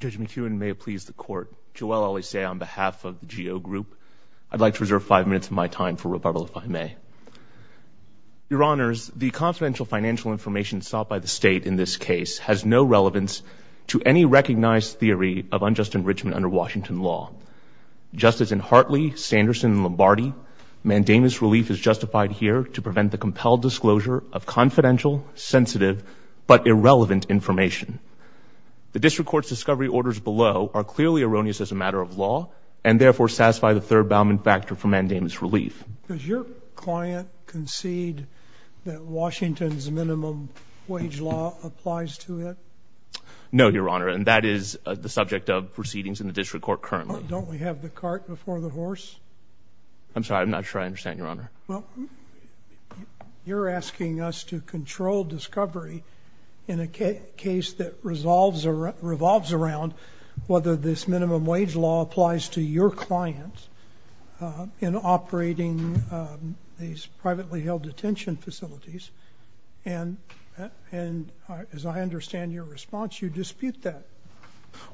Judge McEwen, may it please the Court, Joelle Alise on behalf of the GEO Group, I'd like to reserve five minutes of my time for rebuttal, if I may. Your Honors, the confidential financial information sought by the State in this case has no relevance to any recognized theory of unjust enrichment under Washington law. Just as in Hartley, Sanderson, and Lombardi, mandamus relief is justified here to prevent the compelled disclosure of confidential, sensitive, but irrelevant information. The District Court's discovery orders below are clearly erroneous as a matter of law, and therefore satisfy the third bounding factor for mandamus relief. Does your client concede that Washington's minimum wage law applies to it? No, Your Honor, and that is the subject of proceedings in the District Court currently. Don't we have the cart before the horse? I'm sorry, I'm not sure I understand, Your Honor. Well, you're asking us to control discovery in a case that resolves or revolves around whether this minimum wage law applies to your client in operating these privately held detention facilities, and as I understand your response, you dispute that.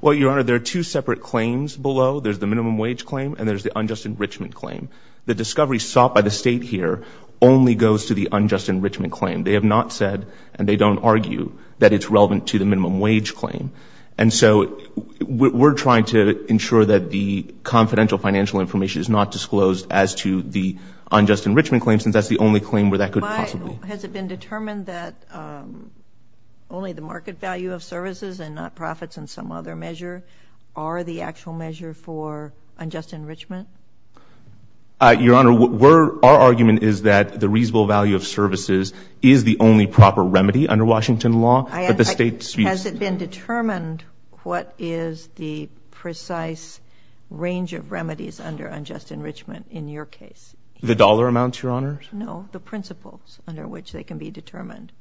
Well, Your Honor, there are two separate claims below. There's the minimum wage claim, and there's the unjust enrichment claim. The discovery sought by the State here only goes to the unjust enrichment claim. They have not said, and they don't argue, that it's relevant to the minimum wage claim. And so we're trying to ensure that the confidential financial information is not disclosed as to the unjust enrichment claim, since that's the only claim where that could possibly be. Has it been determined that only the market value of services and not profits and some other measure are the actual measure for unjust enrichment? Your Honor, our argument is that the reasonable value of services is the only proper remedy under Washington law, but the State disputes— Has it been determined what is the precise range of remedies under unjust enrichment in your case? The dollar amounts, Your Honor? No, the principles under which they can be determined.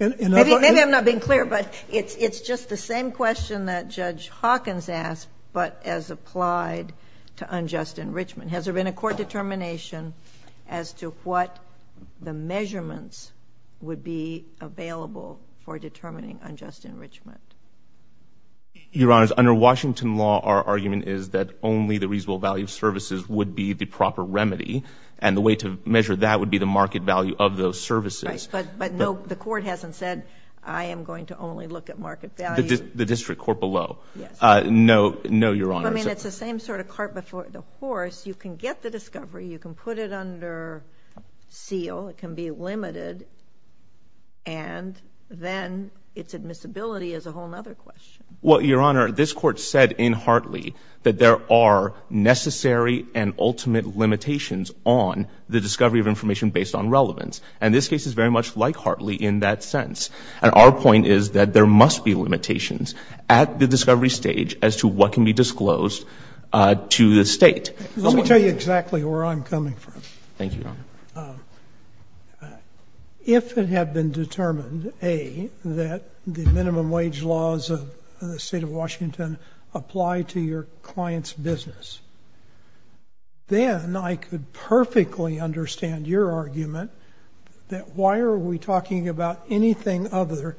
Maybe I'm not being clear, but it's just the same question that Judge Hawkins asked, but as applied to unjust enrichment. Has there been a court determination as to what the measurements would be available for determining unjust enrichment? Your Honor, under Washington law, our argument is that only the reasonable value of services would be the proper remedy, and the way to measure that would be the market value of those services. But no, the court hasn't said, I am going to only look at market value. The district court below? Yes. No, Your Honor. I mean, it's the same sort of cart before the horse. You can get the discovery, you can put it under seal, it can be limited, and then its admissibility is a whole other question. Well, Your Honor, this Court said in Hartley that there are necessary and ultimate limitations on the discovery of information based on relevance, and this case is very much like Hartley in that sense. And our point is that there must be limitations at the discovery stage as to what can be disclosed to the State. Let me tell you exactly where I'm coming from. Thank you, Your Honor. If it had been determined, A, that the minimum wage laws of the State of Washington apply to your client's business, then I could perfectly understand your argument that why are we talking about anything other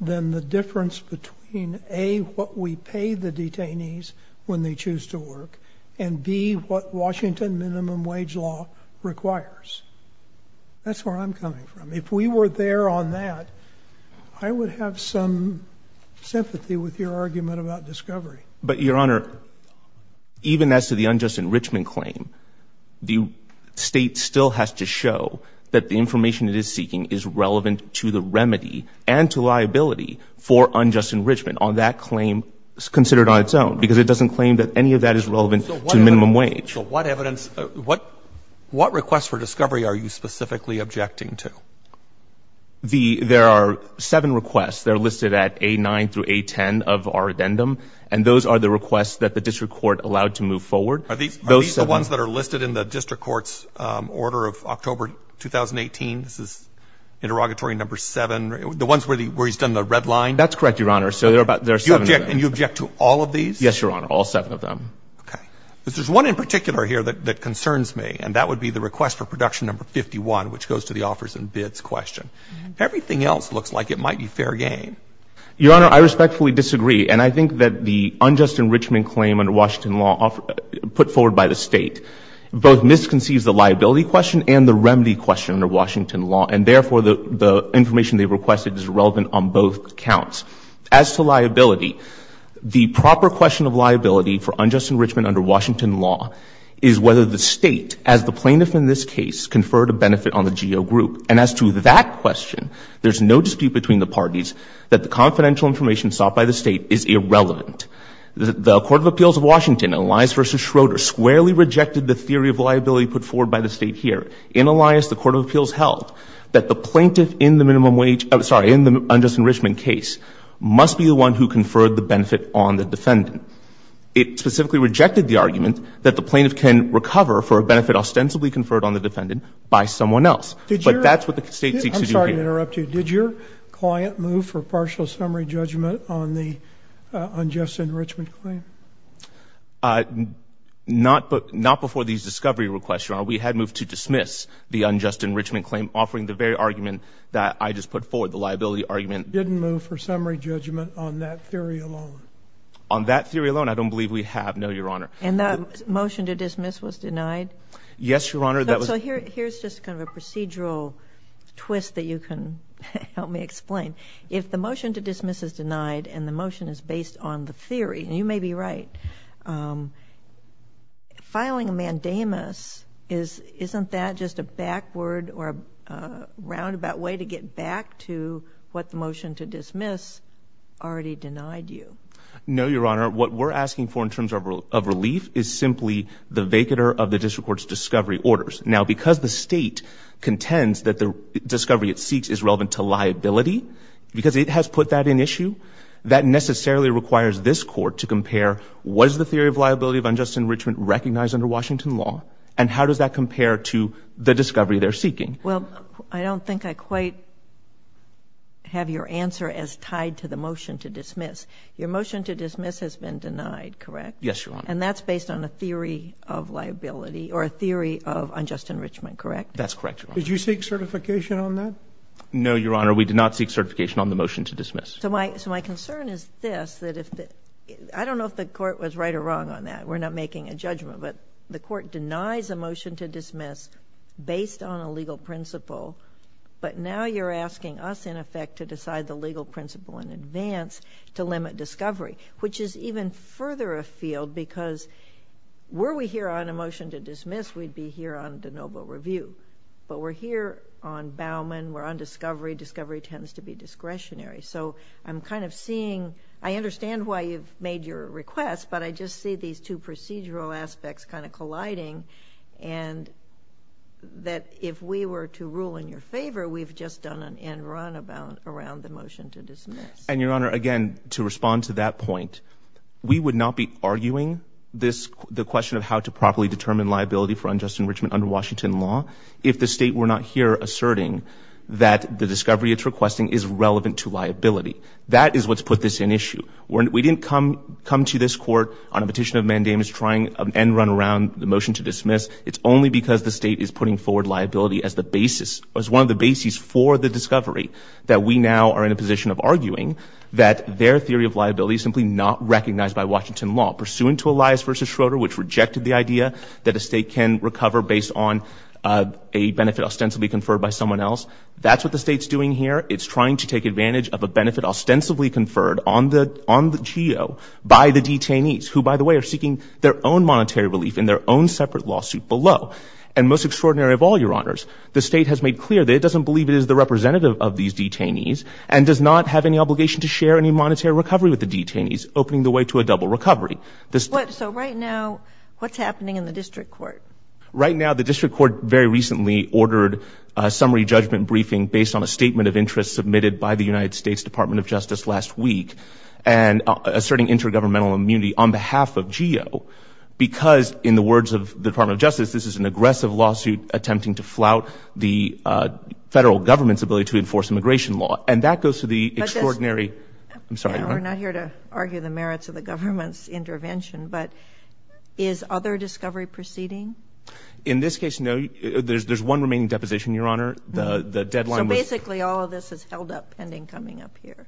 than the difference between, A, what we pay the detainees when they choose to work, and, B, what Washington minimum wage law requires. That's where I'm coming from. If we were there on that, I would have some sympathy with your argument about discovery. But, Your Honor, even as to the unjust enrichment claim, the State still has to show that the information it is seeking is relevant to the remedy and to liability for unjust enrichment on that claim considered on its own, because it doesn't claim that any of that is relevant to minimum wage. So what evidence, what requests for discovery are you specifically objecting to? There are seven requests. They're listed at A-9 through A-10 of our addendum, and those are the requests that the district court allowed to move forward. Are these the ones that are listed in the district court's order of October 2018? This is interrogatory number seven, the ones where he's done the red line? That's correct, Your Honor. So there are seven of them. And you object to all of these? Yes, Your Honor, all seven of them. Okay. There's one in particular here that concerns me, and that would be the request for production number 51, which goes to the offers and bids question. Everything else looks like it might be fair game. Your Honor, I respectfully disagree, and I think that the unjust enrichment claim under Washington law put forward by the State both misconceives the liability question and the remedy question under Washington law, and therefore the information they requested is relevant on both counts. As to liability, the proper question of liability for unjust enrichment under Washington law is whether the State, as the plaintiff in this case, conferred a benefit on the GO group. And as to that question, there's no dispute between the parties that the confidential information sought by the State is irrelevant. The Court of Appeals of Washington, Elias v. Schroeder, squarely rejected the theory of liability put forward by the State here. In Elias, the Court of Appeals held that the plaintiff in the minimum wage — I'm sorry, in the unjust enrichment case must be the one who conferred the benefit on the defendant. It specifically rejected the argument that the plaintiff can recover for a benefit ostensibly conferred on the defendant by someone else. But that's what the State seeks to do here. I'm sorry to interrupt you. Did your client move for partial summary judgment on the unjust enrichment claim? Not before these discovery requests, Your Honor. We had moved to dismiss the unjust enrichment claim offering the very argument that I just put forward, the liability argument. Didn't move for summary judgment on that theory alone? On that theory alone, I don't believe we have, no, Your Honor. And that motion to dismiss was denied? Yes, Your Honor. That was — So here's just kind of a procedural twist that you can help me explain. If the motion to dismiss is denied and the motion is based on the theory — and you may be right — filing a mandamus, isn't that just a backward or a roundabout way to get back to what the motion to dismiss already denied you? No, Your Honor. What we're asking for in terms of relief is simply the vacater of the district court's discovery orders. Now, because the State contends that the discovery it seeks is relevant to liability, because it has put that in issue, that necessarily requires this Court to compare, was the theory of liability of unjust enrichment recognized under Washington law? And how does that compare to the discovery they're seeking? Well, I don't think I quite have your answer as tied to the motion to dismiss. Your motion to dismiss has been denied, correct? Yes, Your Honor. And that's based on a theory of liability or a theory of unjust enrichment, correct? That's correct, Your Honor. Did you seek certification on that? No, Your Honor. We did not seek certification on the motion to dismiss. So my concern is this, that if the — I don't know if the Court was right or wrong on that. We're not making a judgment. But the Court denies a motion to dismiss based on a legal principle, but now you're asking us, in effect, to decide the legal principle in advance to limit discovery, which is even further afield because were we here on a motion to dismiss, we'd be here on de novo review. But we're here on Bauman, we're on discovery. Discovery tends to be discretionary. So I'm kind of seeing... I understand why you've made your request, but I just see these two procedural aspects kind of colliding, and that if we were to rule in your favor, we've just done an end run around the motion to dismiss. And Your Honor, again, to respond to that point, we would not be arguing the question of how to properly determine liability for unjust enrichment under Washington law if the State were not here asserting that the discovery it's requesting is relevant to liability. That is what's put this in issue. We didn't come to this Court on a petition of mandamus trying an end run around the motion to dismiss. It's only because the State is putting forward liability as the basis, as one of the bases for the discovery, that we now are in a position of arguing that their theory of liability is simply not recognized by Washington law, pursuant to Elias v. Schroeder, which rejected the idea that a State can recover based on a benefit ostensibly conferred by someone else. That's what the State's doing here. It's trying to take advantage of a benefit ostensibly conferred on the GEO by the detainees, who by the way are seeking their own monetary relief in their own separate lawsuit below. And most extraordinary of all, Your Honors, the State has made clear that it doesn't believe it is the representative of these detainees and does not have any obligation to share any monetary recovery with the detainees, opening the way to a double recovery. So right now, what's happening in the District Court? Right now, the District Court very recently ordered a summary judgment briefing based on a statement of interest submitted by the United States Department of Justice last week and asserting intergovernmental immunity on behalf of GEO, because in the words of the Department of Justice, this is an aggressive lawsuit attempting to flout the Federal Government's ability to enforce immigration law. And that goes to the extraordinary – I'm sorry, Your Honor. We're not here to argue the merits of the government's intervention, but is other discovery proceeding? In this case, no. There's one remaining deposition, Your Honor. So basically, all of this is held up pending coming up here?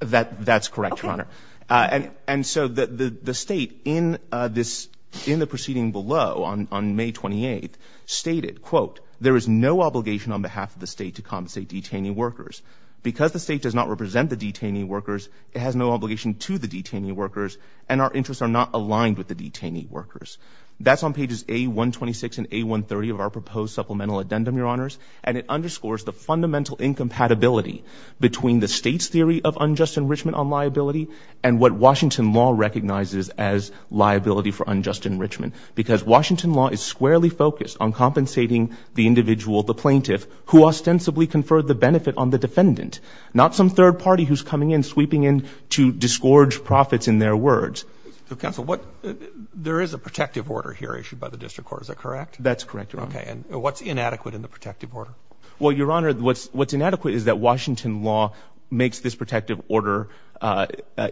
That's correct, Your Honor. And so the State, in the proceeding below on May 28th, stated, quote, there is no obligation on behalf of the State to compensate detainee workers. Because the State does not represent the detainee workers, it has no obligation to the detainee workers, and our interests are not aligned with the detainee workers. That's on pages A-126 and A-130 of our proposed supplemental addendum, Your Honors. And it underscores the fundamental incompatibility between the State's theory of unjust enrichment on liability and what Washington law recognizes as liability for unjust enrichment. Because Washington law is squarely focused on compensating the individual, the plaintiff, who ostensibly conferred the benefit on the defendant, not some third party who's coming in sweeping in to disgorge profits in their words. So, Counsel, what – there is a protective order here issued by the District Court, is that correct? That's correct, Your Honor. Okay. And what's inadequate in the protective order? Well, Your Honor, what's inadequate is that Washington law makes this protective order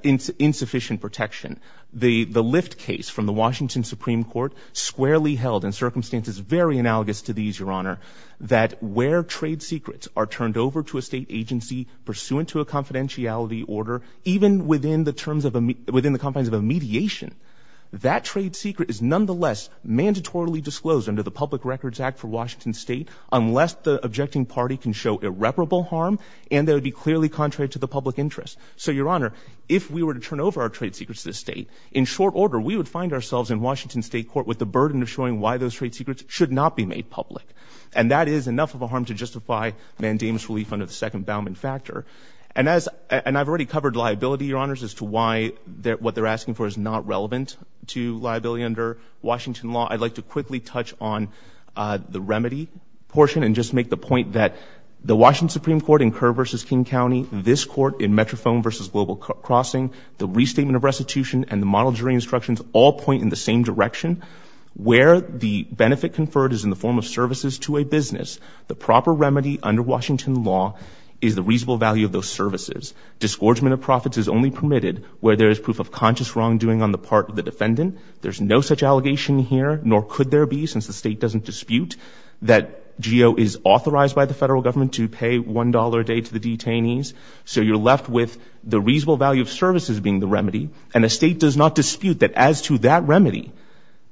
insufficient protection. The Lyft case from the Washington Supreme Court squarely held in circumstances very analogous to these, Your Honor, that where trade secrets are turned over to a State agency pursuant to a confidentiality order, even within the terms of a – within the confines of a mediation, that trade secret is nonetheless mandatorily disclosed under the public record act for Washington State unless the objecting party can show irreparable harm and that it would be clearly contrary to the public interest. So Your Honor, if we were to turn over our trade secrets to the State, in short order, we would find ourselves in Washington State court with the burden of showing why those trade secrets should not be made public. And that is enough of a harm to justify mandamus relief under the second bound and factor. And as – and I've already covered liability, Your Honors, as to why what they're asking for is not relevant to liability under Washington law. I'd like to quickly touch on the remedy portion and just make the point that the Washington Supreme Court in Kerr v. King County, this Court in Metrophone v. Global Crossing, the restatement of restitution and the model jury instructions all point in the same direction. Where the benefit conferred is in the form of services to a business, the proper remedy under Washington law is the reasonable value of those services. Discouragement of profits is only permitted where there is proof of conscious wrongdoing on the part of the defendant. There's no such allegation here, nor could there be, since the State doesn't dispute that GEO is authorized by the federal government to pay $1 a day to the detainees. So you're left with the reasonable value of services being the remedy. And the State does not dispute that as to that remedy,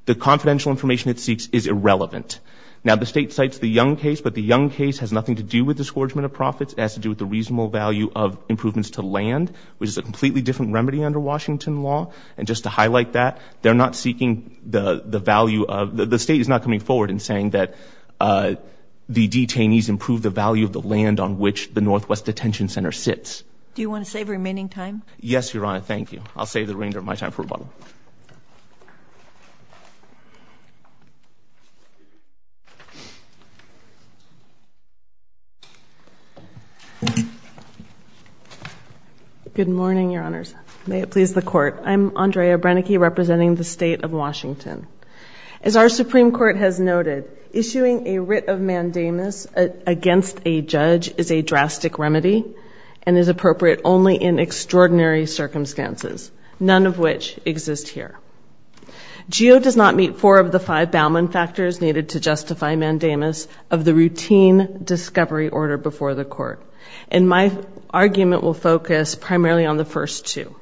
the confidential information it seeks is irrelevant. Now the State cites the Young case, but the Young case has nothing to do with discouragement of profits. It has to do with the reasonable value of improvements to land, which is a completely different remedy under Washington law. And just to highlight that, they're not seeking the value of, the State is not coming forward in saying that the detainees improve the value of the land on which the Northwest Detention Center sits. Do you want to save remaining time? Yes, Your Honor. Thank you. I'll save the remainder of my time for rebuttal. Good morning, Your Honors. May it please the Court. I'm Andrea Brennecke, representing the State of Washington. As our Supreme Court has noted, issuing a writ of mandamus against a judge is a drastic remedy and is appropriate only in extraordinary circumstances, none of which exist here. GEO does not meet four of the five Bauman factors needed to justify mandamus of the routine discovery order before the Court. And my argument will focus primarily on the first two.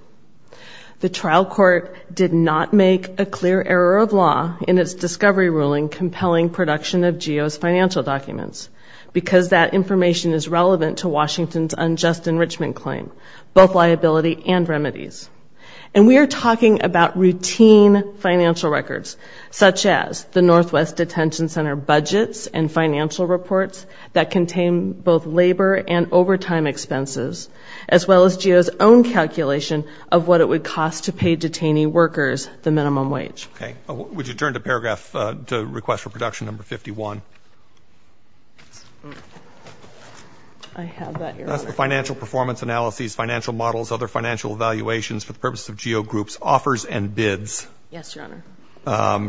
The trial court did not make a clear error of law in its discovery ruling compelling production of GEO's financial documents because that information is relevant to Washington's unjust enrichment claim, both liability and remedies. And we are talking about routine financial records, such as the Northwest Detention Center budgets and financial reports that contain both labor and overtime expenses, as well as GEO's own calculation of what it would cost to pay detainee workers the minimum wage. Okay. Would you turn to paragraph, to request for production number 51? I have that, Your Honor. That's the financial performance analyses, financial models, other financial evaluations for the purposes of GEO groups, offers and bids. Yes, Your Honor.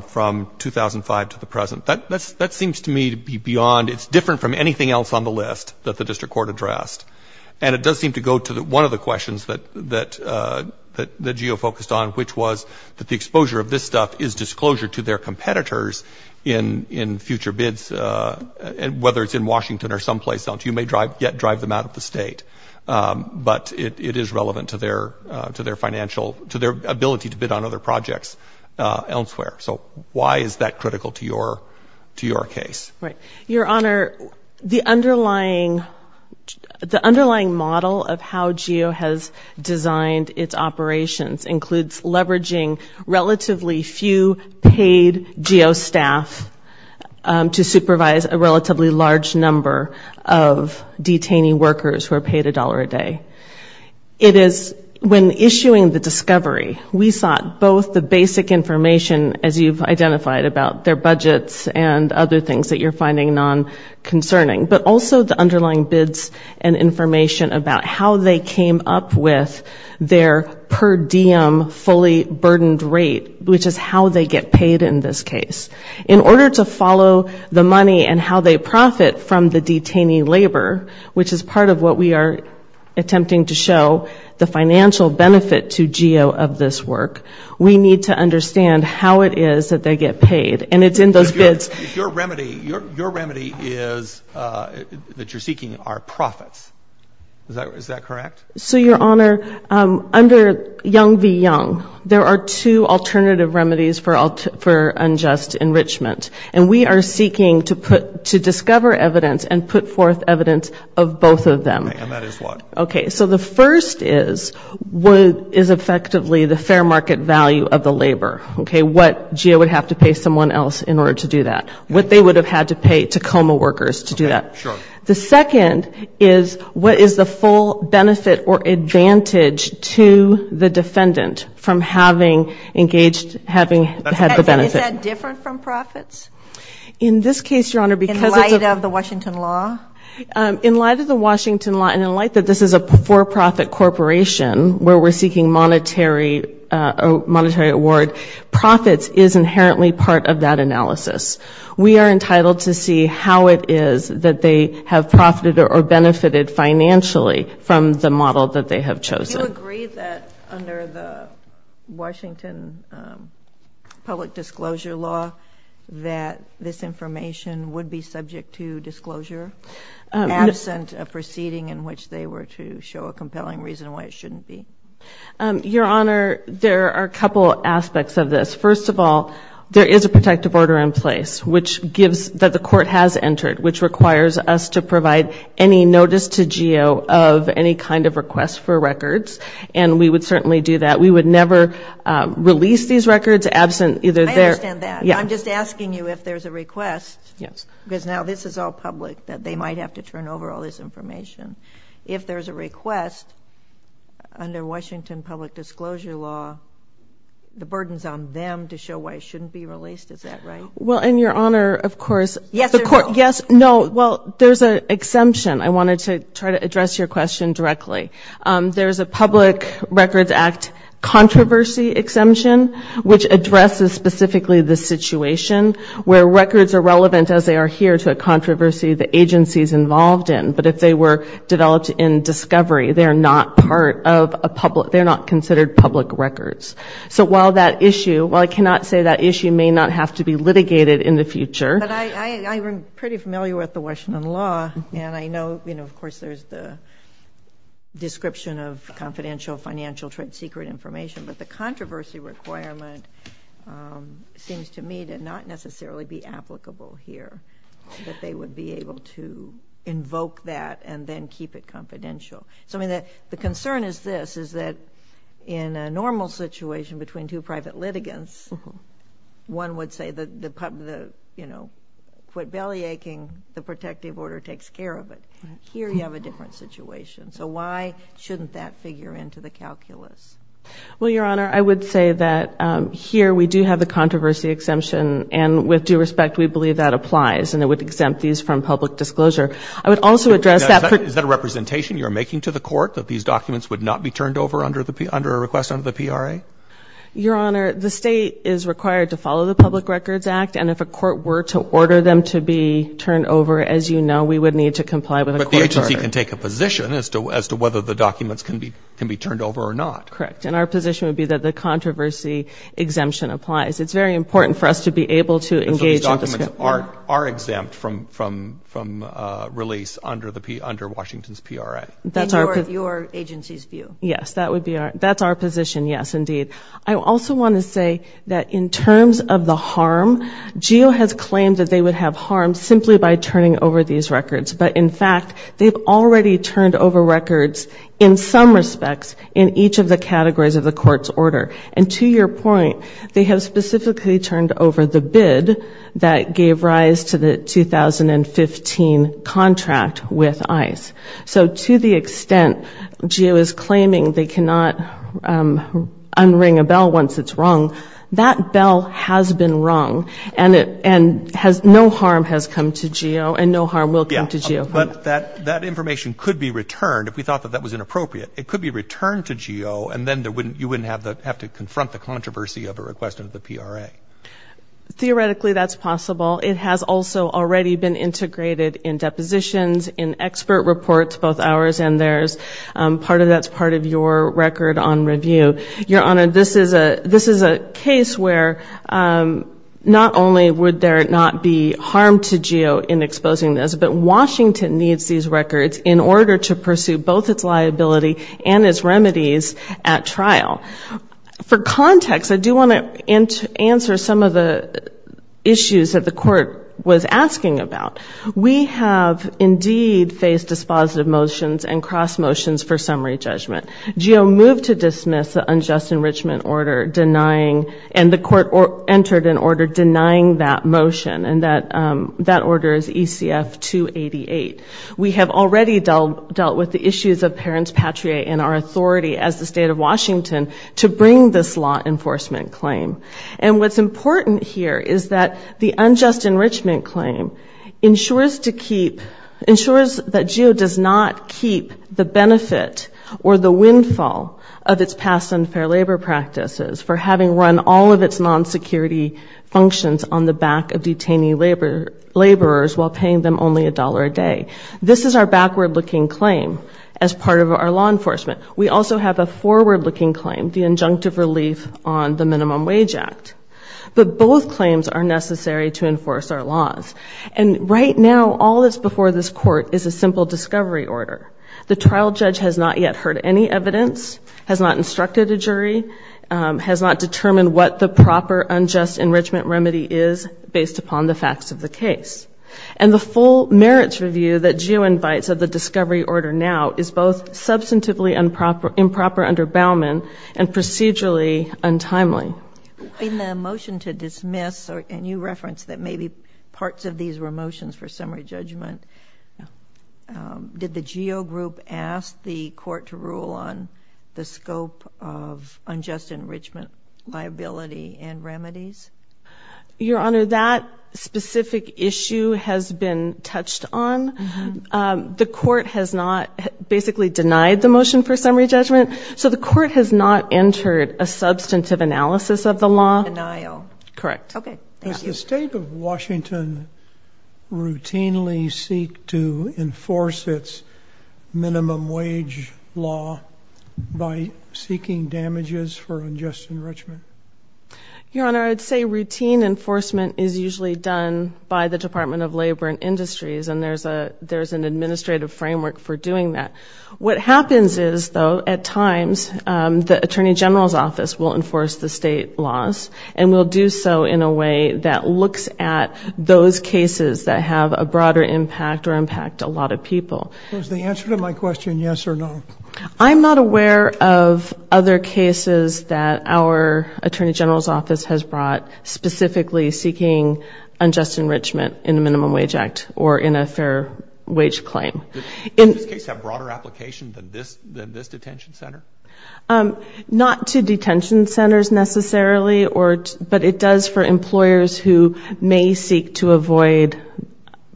From 2005 to the present. That seems to me to be beyond, it's different from anything else on the list that the district court addressed. And it does seem to go to one of the questions that GEO focused on, which was that the exposure of this stuff is disclosure to their competitors in future bids, whether it's in Washington or someplace else. You may yet drive them out of the state. But it is relevant to their financial, to their ability to bid on other projects elsewhere. So why is that critical to your case? Right. Your Honor, the underlying, the underlying model of how GEO has designed its operations includes leveraging relatively few paid GEO staff to supervise a relatively large number of detainee workers who are paid a dollar a day. It is, when issuing the discovery, we sought both the basic information, as you've identified about their budgets and other things that you're finding non-concerning, but also the underlying bids and information about how they came up with their per diem fully burdened rate, which is how they get paid in this case. In order to follow the money and how they profit from the detainee labor, which is part of what we are attempting to show, the financial benefit to GEO of this work, we need to understand how it is that they get paid. And it's in those bids. If your remedy, your remedy is that you're seeking our profits. Is that correct? So, Your Honor, under Young v. Young, there are two alternative remedies for unjust enrichment. And we are seeking to put, to discover evidence and put forth evidence of both of them. And that is what? Okay. So the first is what is effectively the fair market value of the labor, okay, what GEO would have to pay someone else in order to do that, what they would have had to pay Tacoma workers to do that. The second is what is the full benefit or advantage to the defendant from having engaged, having had the benefit. Is that different from profits? In this case, Your Honor, because it's a In light of the Washington law? In light of the Washington law, and in light that this is a for-profit corporation where we're seeking monetary award, profits is inherently part of that analysis. We are entitled to see how it is that they have profited or benefited financially from the model that they have chosen. Do you agree that under the Washington public disclosure law that this information would be subject to disclosure, absent a proceeding in which they were to show a compelling reason why it shouldn't be? Your Honor, there are a couple aspects of this. First of all, there is a protective order in place which gives, that the court has entered, which requires us to provide any notice to GEO of any kind of request for records. And we would certainly do that. We would never release these records absent either their. I understand that. Yeah. I'm just asking you if there's a request. Yes. Because now this is all public, that they might have to turn over all this information. If there's a request, under Washington public disclosure law, the burden's on them to show why it shouldn't be released. Is that right? Well, and Your Honor, of course, the court, yes, no, well, there's an exemption. I wanted to try to address your question directly. There's a public records act controversy exemption, which addresses specifically the situation where records are relevant, as they are here, to a controversy the agency's involved in. But if they were developed in discovery, they're not part of a public, they're not considered public records. So while that issue, while I cannot say that issue may not have to be litigated in the future. But I am pretty familiar with the Washington law, and I know, you know, of course there's the description of confidential financial trade secret information, but the controversy requirement seems to me to not necessarily be applicable here, that they would be able to invoke that and then keep it confidential. So I mean, the concern is this, is that in a normal situation between two private litigants, one would say the, you know, quit belly aching, the protective order takes care of it. Here you have a different situation. So why shouldn't that figure into the calculus? Well, Your Honor, I would say that here we do have the controversy exemption, and with due respect, we believe that applies, and it would exempt these from public disclosure. I would also address that. Is that a representation you're making to the court, that these documents would not be turned over under a request under the PRA? Your Honor, the state is required to follow the public records act, and if a court were to order them to be turned over, as you know, we would need to comply with a court order. But the agency can take a position as to whether the documents can be turned over or not. Correct. And our position would be that the controversy exemption applies. It's very important for us to be able to engage in this. And so these documents are exempt from release under Washington's PRA. That's our position. In your agency's view. Yes. That would be our, that's our position. Yes, indeed. I also want to say that in terms of the harm, GEO has claimed that they would have harm simply by turning over these records, but in fact, they've already turned over records in some respects in each of the categories of the court's order. And to your point, they have specifically turned over the bid that gave rise to the 2015 contract with ICE. So to the extent GEO is claiming they cannot unring a bell once it's rung, that bell has been rung, and no harm has come to GEO, and no harm will come to GEO. But that information could be returned, if we thought that that was inappropriate. It could be returned to GEO, and then you wouldn't have to confront the controversy of a request under the PRA. Theoretically, that's possible. It has also already been integrated in depositions, in expert reports, both ours and theirs. Part of that's part of your record on review. Your Honor, this is a case where not only would there not be harm to GEO in exposing this, but Washington needs these records in order to pursue both its liability and its remedies at trial. For context, I do want to answer some of the issues that the court was asking about. We have indeed faced dispositive motions and cross motions for summary judgment. GEO moved to dismiss the unjust enrichment order denying, and the court entered an order denying that motion, and that order is ECF 288. We have already dealt with the issues of parents patriae and our authority as the state of Washington to bring this law enforcement claim. And what's important here is that the unjust enrichment claim ensures to keep, ensures that GEO does not keep the benefit or the windfall of its past unfair labor practices for having run all of its non-security functions on the back of detainee laborers while paying them only a dollar a day. This is our backward-looking claim as part of our law enforcement. We also have a forward-looking claim, the injunctive relief on the Minimum Wage Act. But both claims are necessary to enforce our laws. And right now, all that's before this court is a simple discovery order. The trial judge has not yet heard any evidence, has not instructed a jury, has not determined what the proper unjust enrichment remedy is based upon the facts of the case. And the full merits review that GEO invites of the discovery order now is both substantively improper under Bauman and procedurally untimely. In the motion to dismiss, and you referenced that maybe parts of these were motions for GEO group asked the court to rule on the scope of unjust enrichment liability and remedies? Your Honor, that specific issue has been touched on. The court has not basically denied the motion for summary judgment. So the court has not entered a substantive analysis of the law. Denial. Correct. Does the state of Washington routinely seek to enforce its minimum wage law by seeking damages for unjust enrichment? Your Honor, I'd say routine enforcement is usually done by the Department of Labor and Industries, and there's an administrative framework for doing that. What happens is, though, at times, the Attorney General's office will enforce the state laws and will do so in a way that looks at those cases that have a broader impact or impact a lot of people. So is the answer to my question yes or no? I'm not aware of other cases that our Attorney General's office has brought specifically seeking unjust enrichment in the Minimum Wage Act or in a fair wage claim. Does this case have broader application than this detention center? Not to detention centers necessarily, but it does for employers who may seek to avoid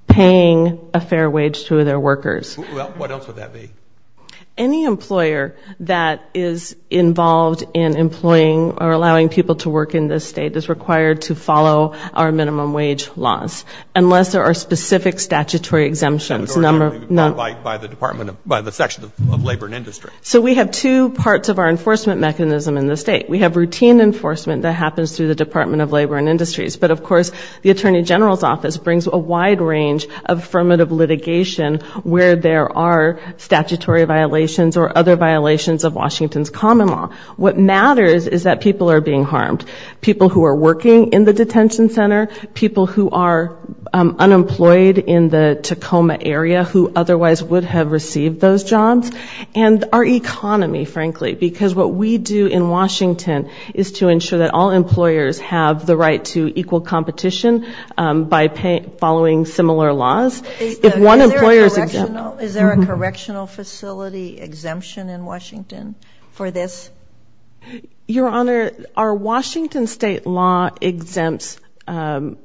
paying a fair wage to their workers. Well, what else would that be? Any employer that is involved in employing or allowing people to work in this state is required to follow our minimum wage laws, unless there are specific statutory exemptions. Not by the Department, by the section of Labor and Industries. So we have two parts of our enforcement mechanism in the state. We have routine enforcement that happens through the Department of Labor and Industries, but of course, the Attorney General's office brings a wide range of affirmative litigation where there are statutory violations or other violations of Washington's common law. What matters is that people are being harmed. People who are working in the detention center, people who are unemployed in the Tacoma area who otherwise would have received those jobs, and our economy, frankly, because what we do in Washington is to ensure that all employers have the right to equal competition by following similar laws. Is there a correctional facility exemption in Washington for this? Your Honor, our Washington state law exempts certain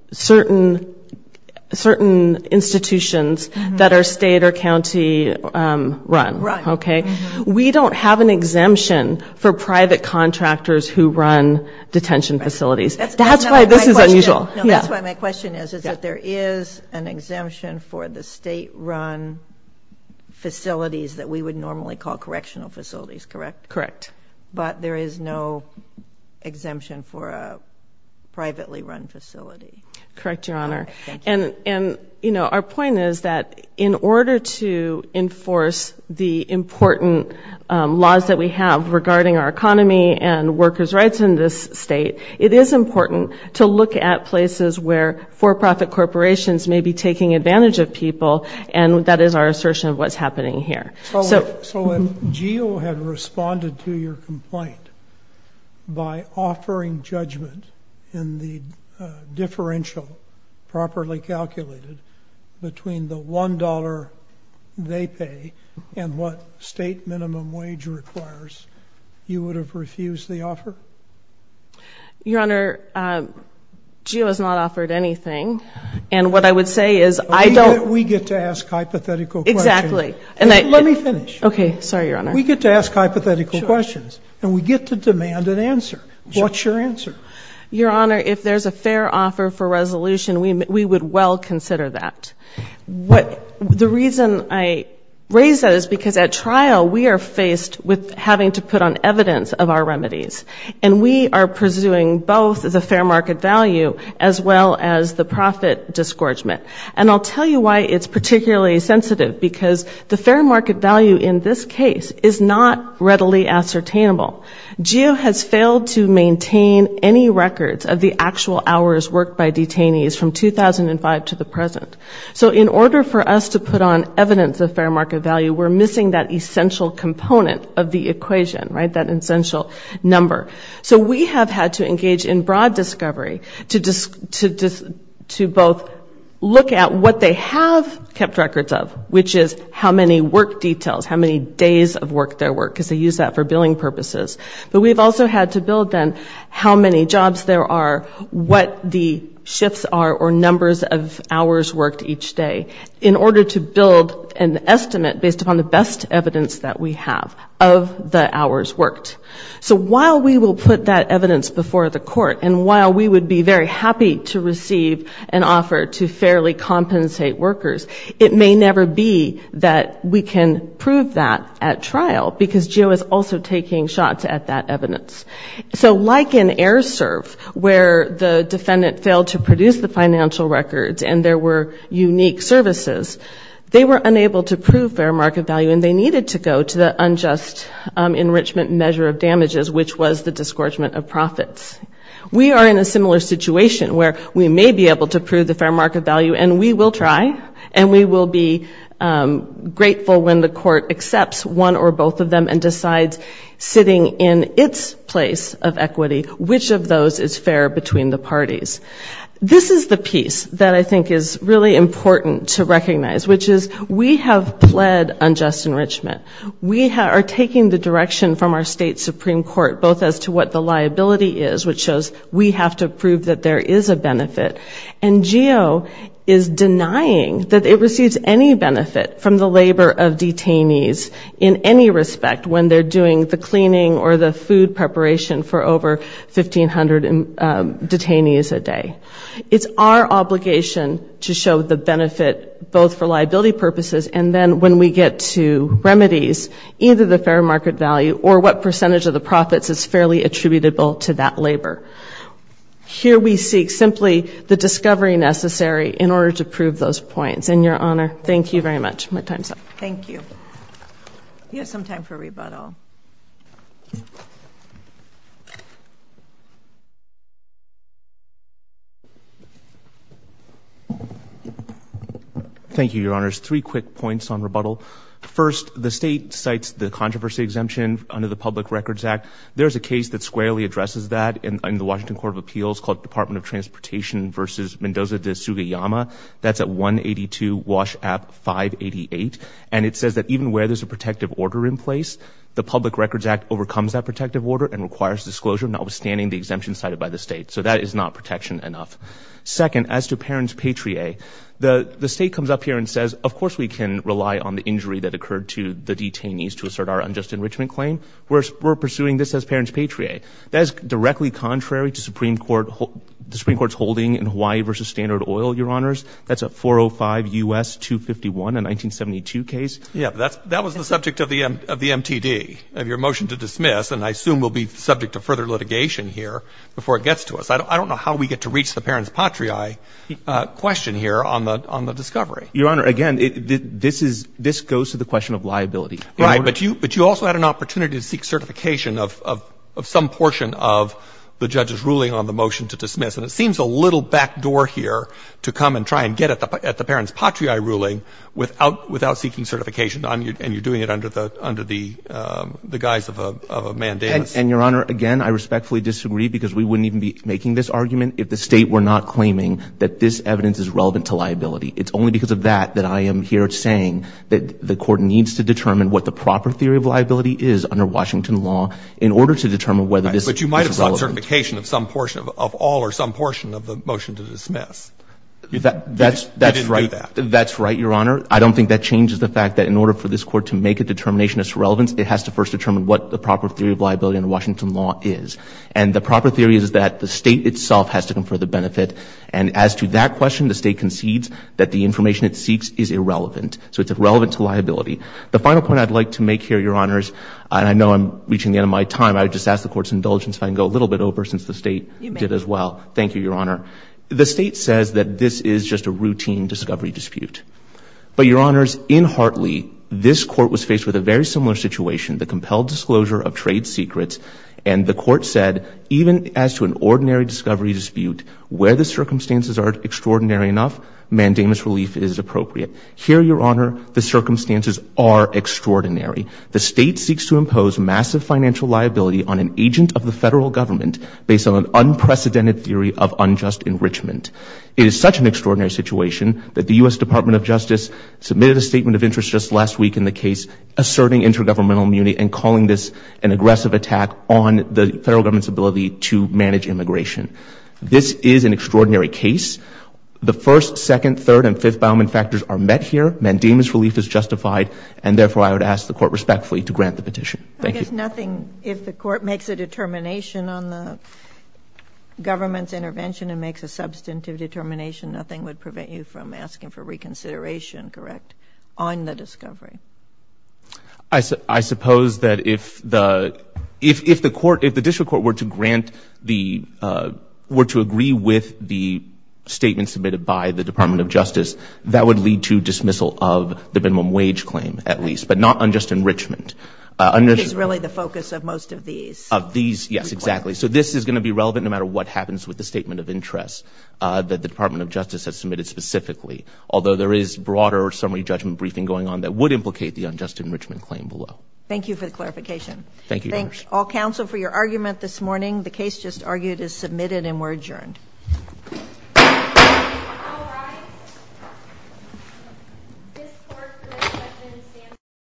institutions that are state or county run. We don't have an exemption for private contractors who run detention facilities. That's why this is unusual. No, that's why my question is, is that there is an exemption for the state run facilities that we would normally call correctional facilities, correct? Correct. But there is no exemption for a privately run facility. Correct, Your Honor. Our point is that in order to enforce the important laws that we have regarding our economy and workers' rights in this state, it is important to look at places where for-profit corporations may be taking advantage of people, and that is our assertion of what's happening here. So if GEO had responded to your complaint by offering judgment in the differential properly calculated between the $1 they pay and what state minimum wage requires, you would have refused the offer? Your Honor, GEO has not offered anything, and what I would say is I don't— We get to ask hypothetical questions. Exactly. Let me finish. Okay. Sorry, Your Honor. We get to ask hypothetical questions, and we get to demand an answer. What's your answer? Your Honor, if there's a fair offer for resolution, we would well consider that. The reason I raise that is because at trial we are faced with having to put on evidence of our remedies, and we are pursuing both the fair market value as well as the profit disgorgement. And I'll tell you why it's particularly sensitive, because the fair market value in this case is not readily ascertainable. GEO has failed to maintain any records of the actual hours worked by detainees from 2005 to the present. So in order for us to put on evidence of fair market value, we're missing that essential component of the equation, right, that essential number. So we have had to engage in broad discovery to both look at what they have kept records of, which is how many work details, how many days of work there were, because they use that for billing purposes, but we've also had to build then how many jobs there are, what the shifts are or numbers of hours worked each day in order to build an estimate based upon the best evidence that we have of the hours worked. So while we will put that evidence before the court, and while we would be very happy to receive an offer to fairly compensate workers, it may never be that we can prove that at trial because GEO is also taking shots at that evidence. So like in AirServe, where the defendant failed to produce the financial records and there were unique services, they were unable to prove fair market value and they needed to go to the unjust enrichment measure of damages, which was the disgorgement of profits. We are in a similar situation where we may be able to prove the fair market value, and we will try, and we will be grateful when the court accepts one or both of them and decides sitting in its place of equity, which of those is fair between the parties. This is the piece that I think is really important to recognize, which is we have pled unjust enrichment. We are taking the direction from our state Supreme Court, both as to what the liability is, which shows we have to prove that there is a benefit, and GEO is denying that it receives any benefit from the labor of detainees in any respect when they're doing the cleaning or the food preparation for over 1,500 detainees a day. It's our obligation to show the benefit both for liability purposes and then when we get to remedies, either the fair market value or what percentage of the profits is fairly attributable to that labor. Here we seek simply the discovery necessary in order to prove those points. And Your Honor, thank you very much. My time's up. Thank you. We have some time for rebuttal. Thank you, Your Honors. There's three quick points on rebuttal. First, the state cites the controversy exemption under the Public Records Act. There's a case that squarely addresses that in the Washington Court of Appeals called Department of Transportation v. Mendoza de Sugiyama. That's at 182 WASH Act 588. And it says that even where there's a protective order in place, the Public Records Act overcomes that protective order and requires disclosure notwithstanding the exemption cited by the state. So that is not protection enough. Second, as to Parents Patrie, the state comes up here and says, of course we can rely on the injury that occurred to the detainees to assert our unjust enrichment claim. We're pursuing this as Parents Patrie. That is directly contrary to the Supreme Court's holding in Hawaii v. Standard Oil, Your Honors. That's at 405 U.S. 251, a 1972 case. That was the subject of the MTD, of your motion to dismiss, and I assume we'll be subject to further litigation here before it gets to us. I don't know how we get to reach the Parents Patrie question here on the discovery. Your Honor, again, this is — this goes to the question of liability. Right. But you also had an opportunity to seek certification of some portion of the judge's ruling on the motion to dismiss. And it seems a little backdoor here to come and try and get at the Parents Patrie ruling without seeking certification, and you're doing it under the guise of a mandamus. And, Your Honor, again, I respectfully disagree because we wouldn't even be making this argument if the State were not claiming that this evidence is relevant to liability. It's only because of that that I am here saying that the Court needs to determine what the proper theory of liability is under Washington law in order to determine whether this is relevant. But you might have sought certification of some portion — of all or some portion of the motion to dismiss. You didn't do that. That's right. That's right, Your Honor. I don't think that changes the fact that in order for this Court to make a determination of its relevance, it has to first determine what the proper theory of liability under Washington law is. And the proper theory is that the State itself has to confer the benefit. And as to that question, the State concedes that the information it seeks is irrelevant. So it's irrelevant to liability. The final point I'd like to make here, Your Honors — and I know I'm reaching the end of my time. I would just ask the Court's indulgence if I can go a little bit over since the State did as well. You may. Thank you, Your Honor. The State says that this is just a routine discovery dispute. But, Your Honors, in Hartley, this Court was faced with a very similar situation — the compelled disclosure of trade secrets. And the Court said, even as to an ordinary discovery dispute, where the circumstances are extraordinary enough, mandamus relief is appropriate. Here, Your Honor, the circumstances are extraordinary. The State seeks to impose massive financial liability on an agent of the Federal Government based on an unprecedented theory of unjust enrichment. It is such an extraordinary situation that the U.S. Department of Justice submitted a statement of interest just last week in the case asserting intergovernmental immunity and calling this an aggressive attack on the Federal Government's ability to manage immigration. This is an extraordinary case. The first, second, third, and fifth boundment factors are met here. Mandamus relief is justified, and therefore I would ask the Court respectfully to grant the petition. Thank you. I guess nothing if the Court makes a determination on the government's intervention and makes a substantive determination, nothing would prevent you from asking for reconsideration, correct, on the discovery? I suppose that if the District Court were to agree with the statement submitted by the Department of Justice, that would lead to dismissal of the minimum wage claim, at least, but not unjust enrichment. It is really the focus of most of these. Of these, yes, exactly. This is going to be relevant no matter what happens with the statement of interest that the Department of Justice has submitted specifically, although there is broader summary judgment briefing going on that would implicate the unjust enrichment claim below. Thank you for the clarification. Thank you, Your Honor. Thank all counsel for your argument this morning. The case just argued is submitted and we're adjourned.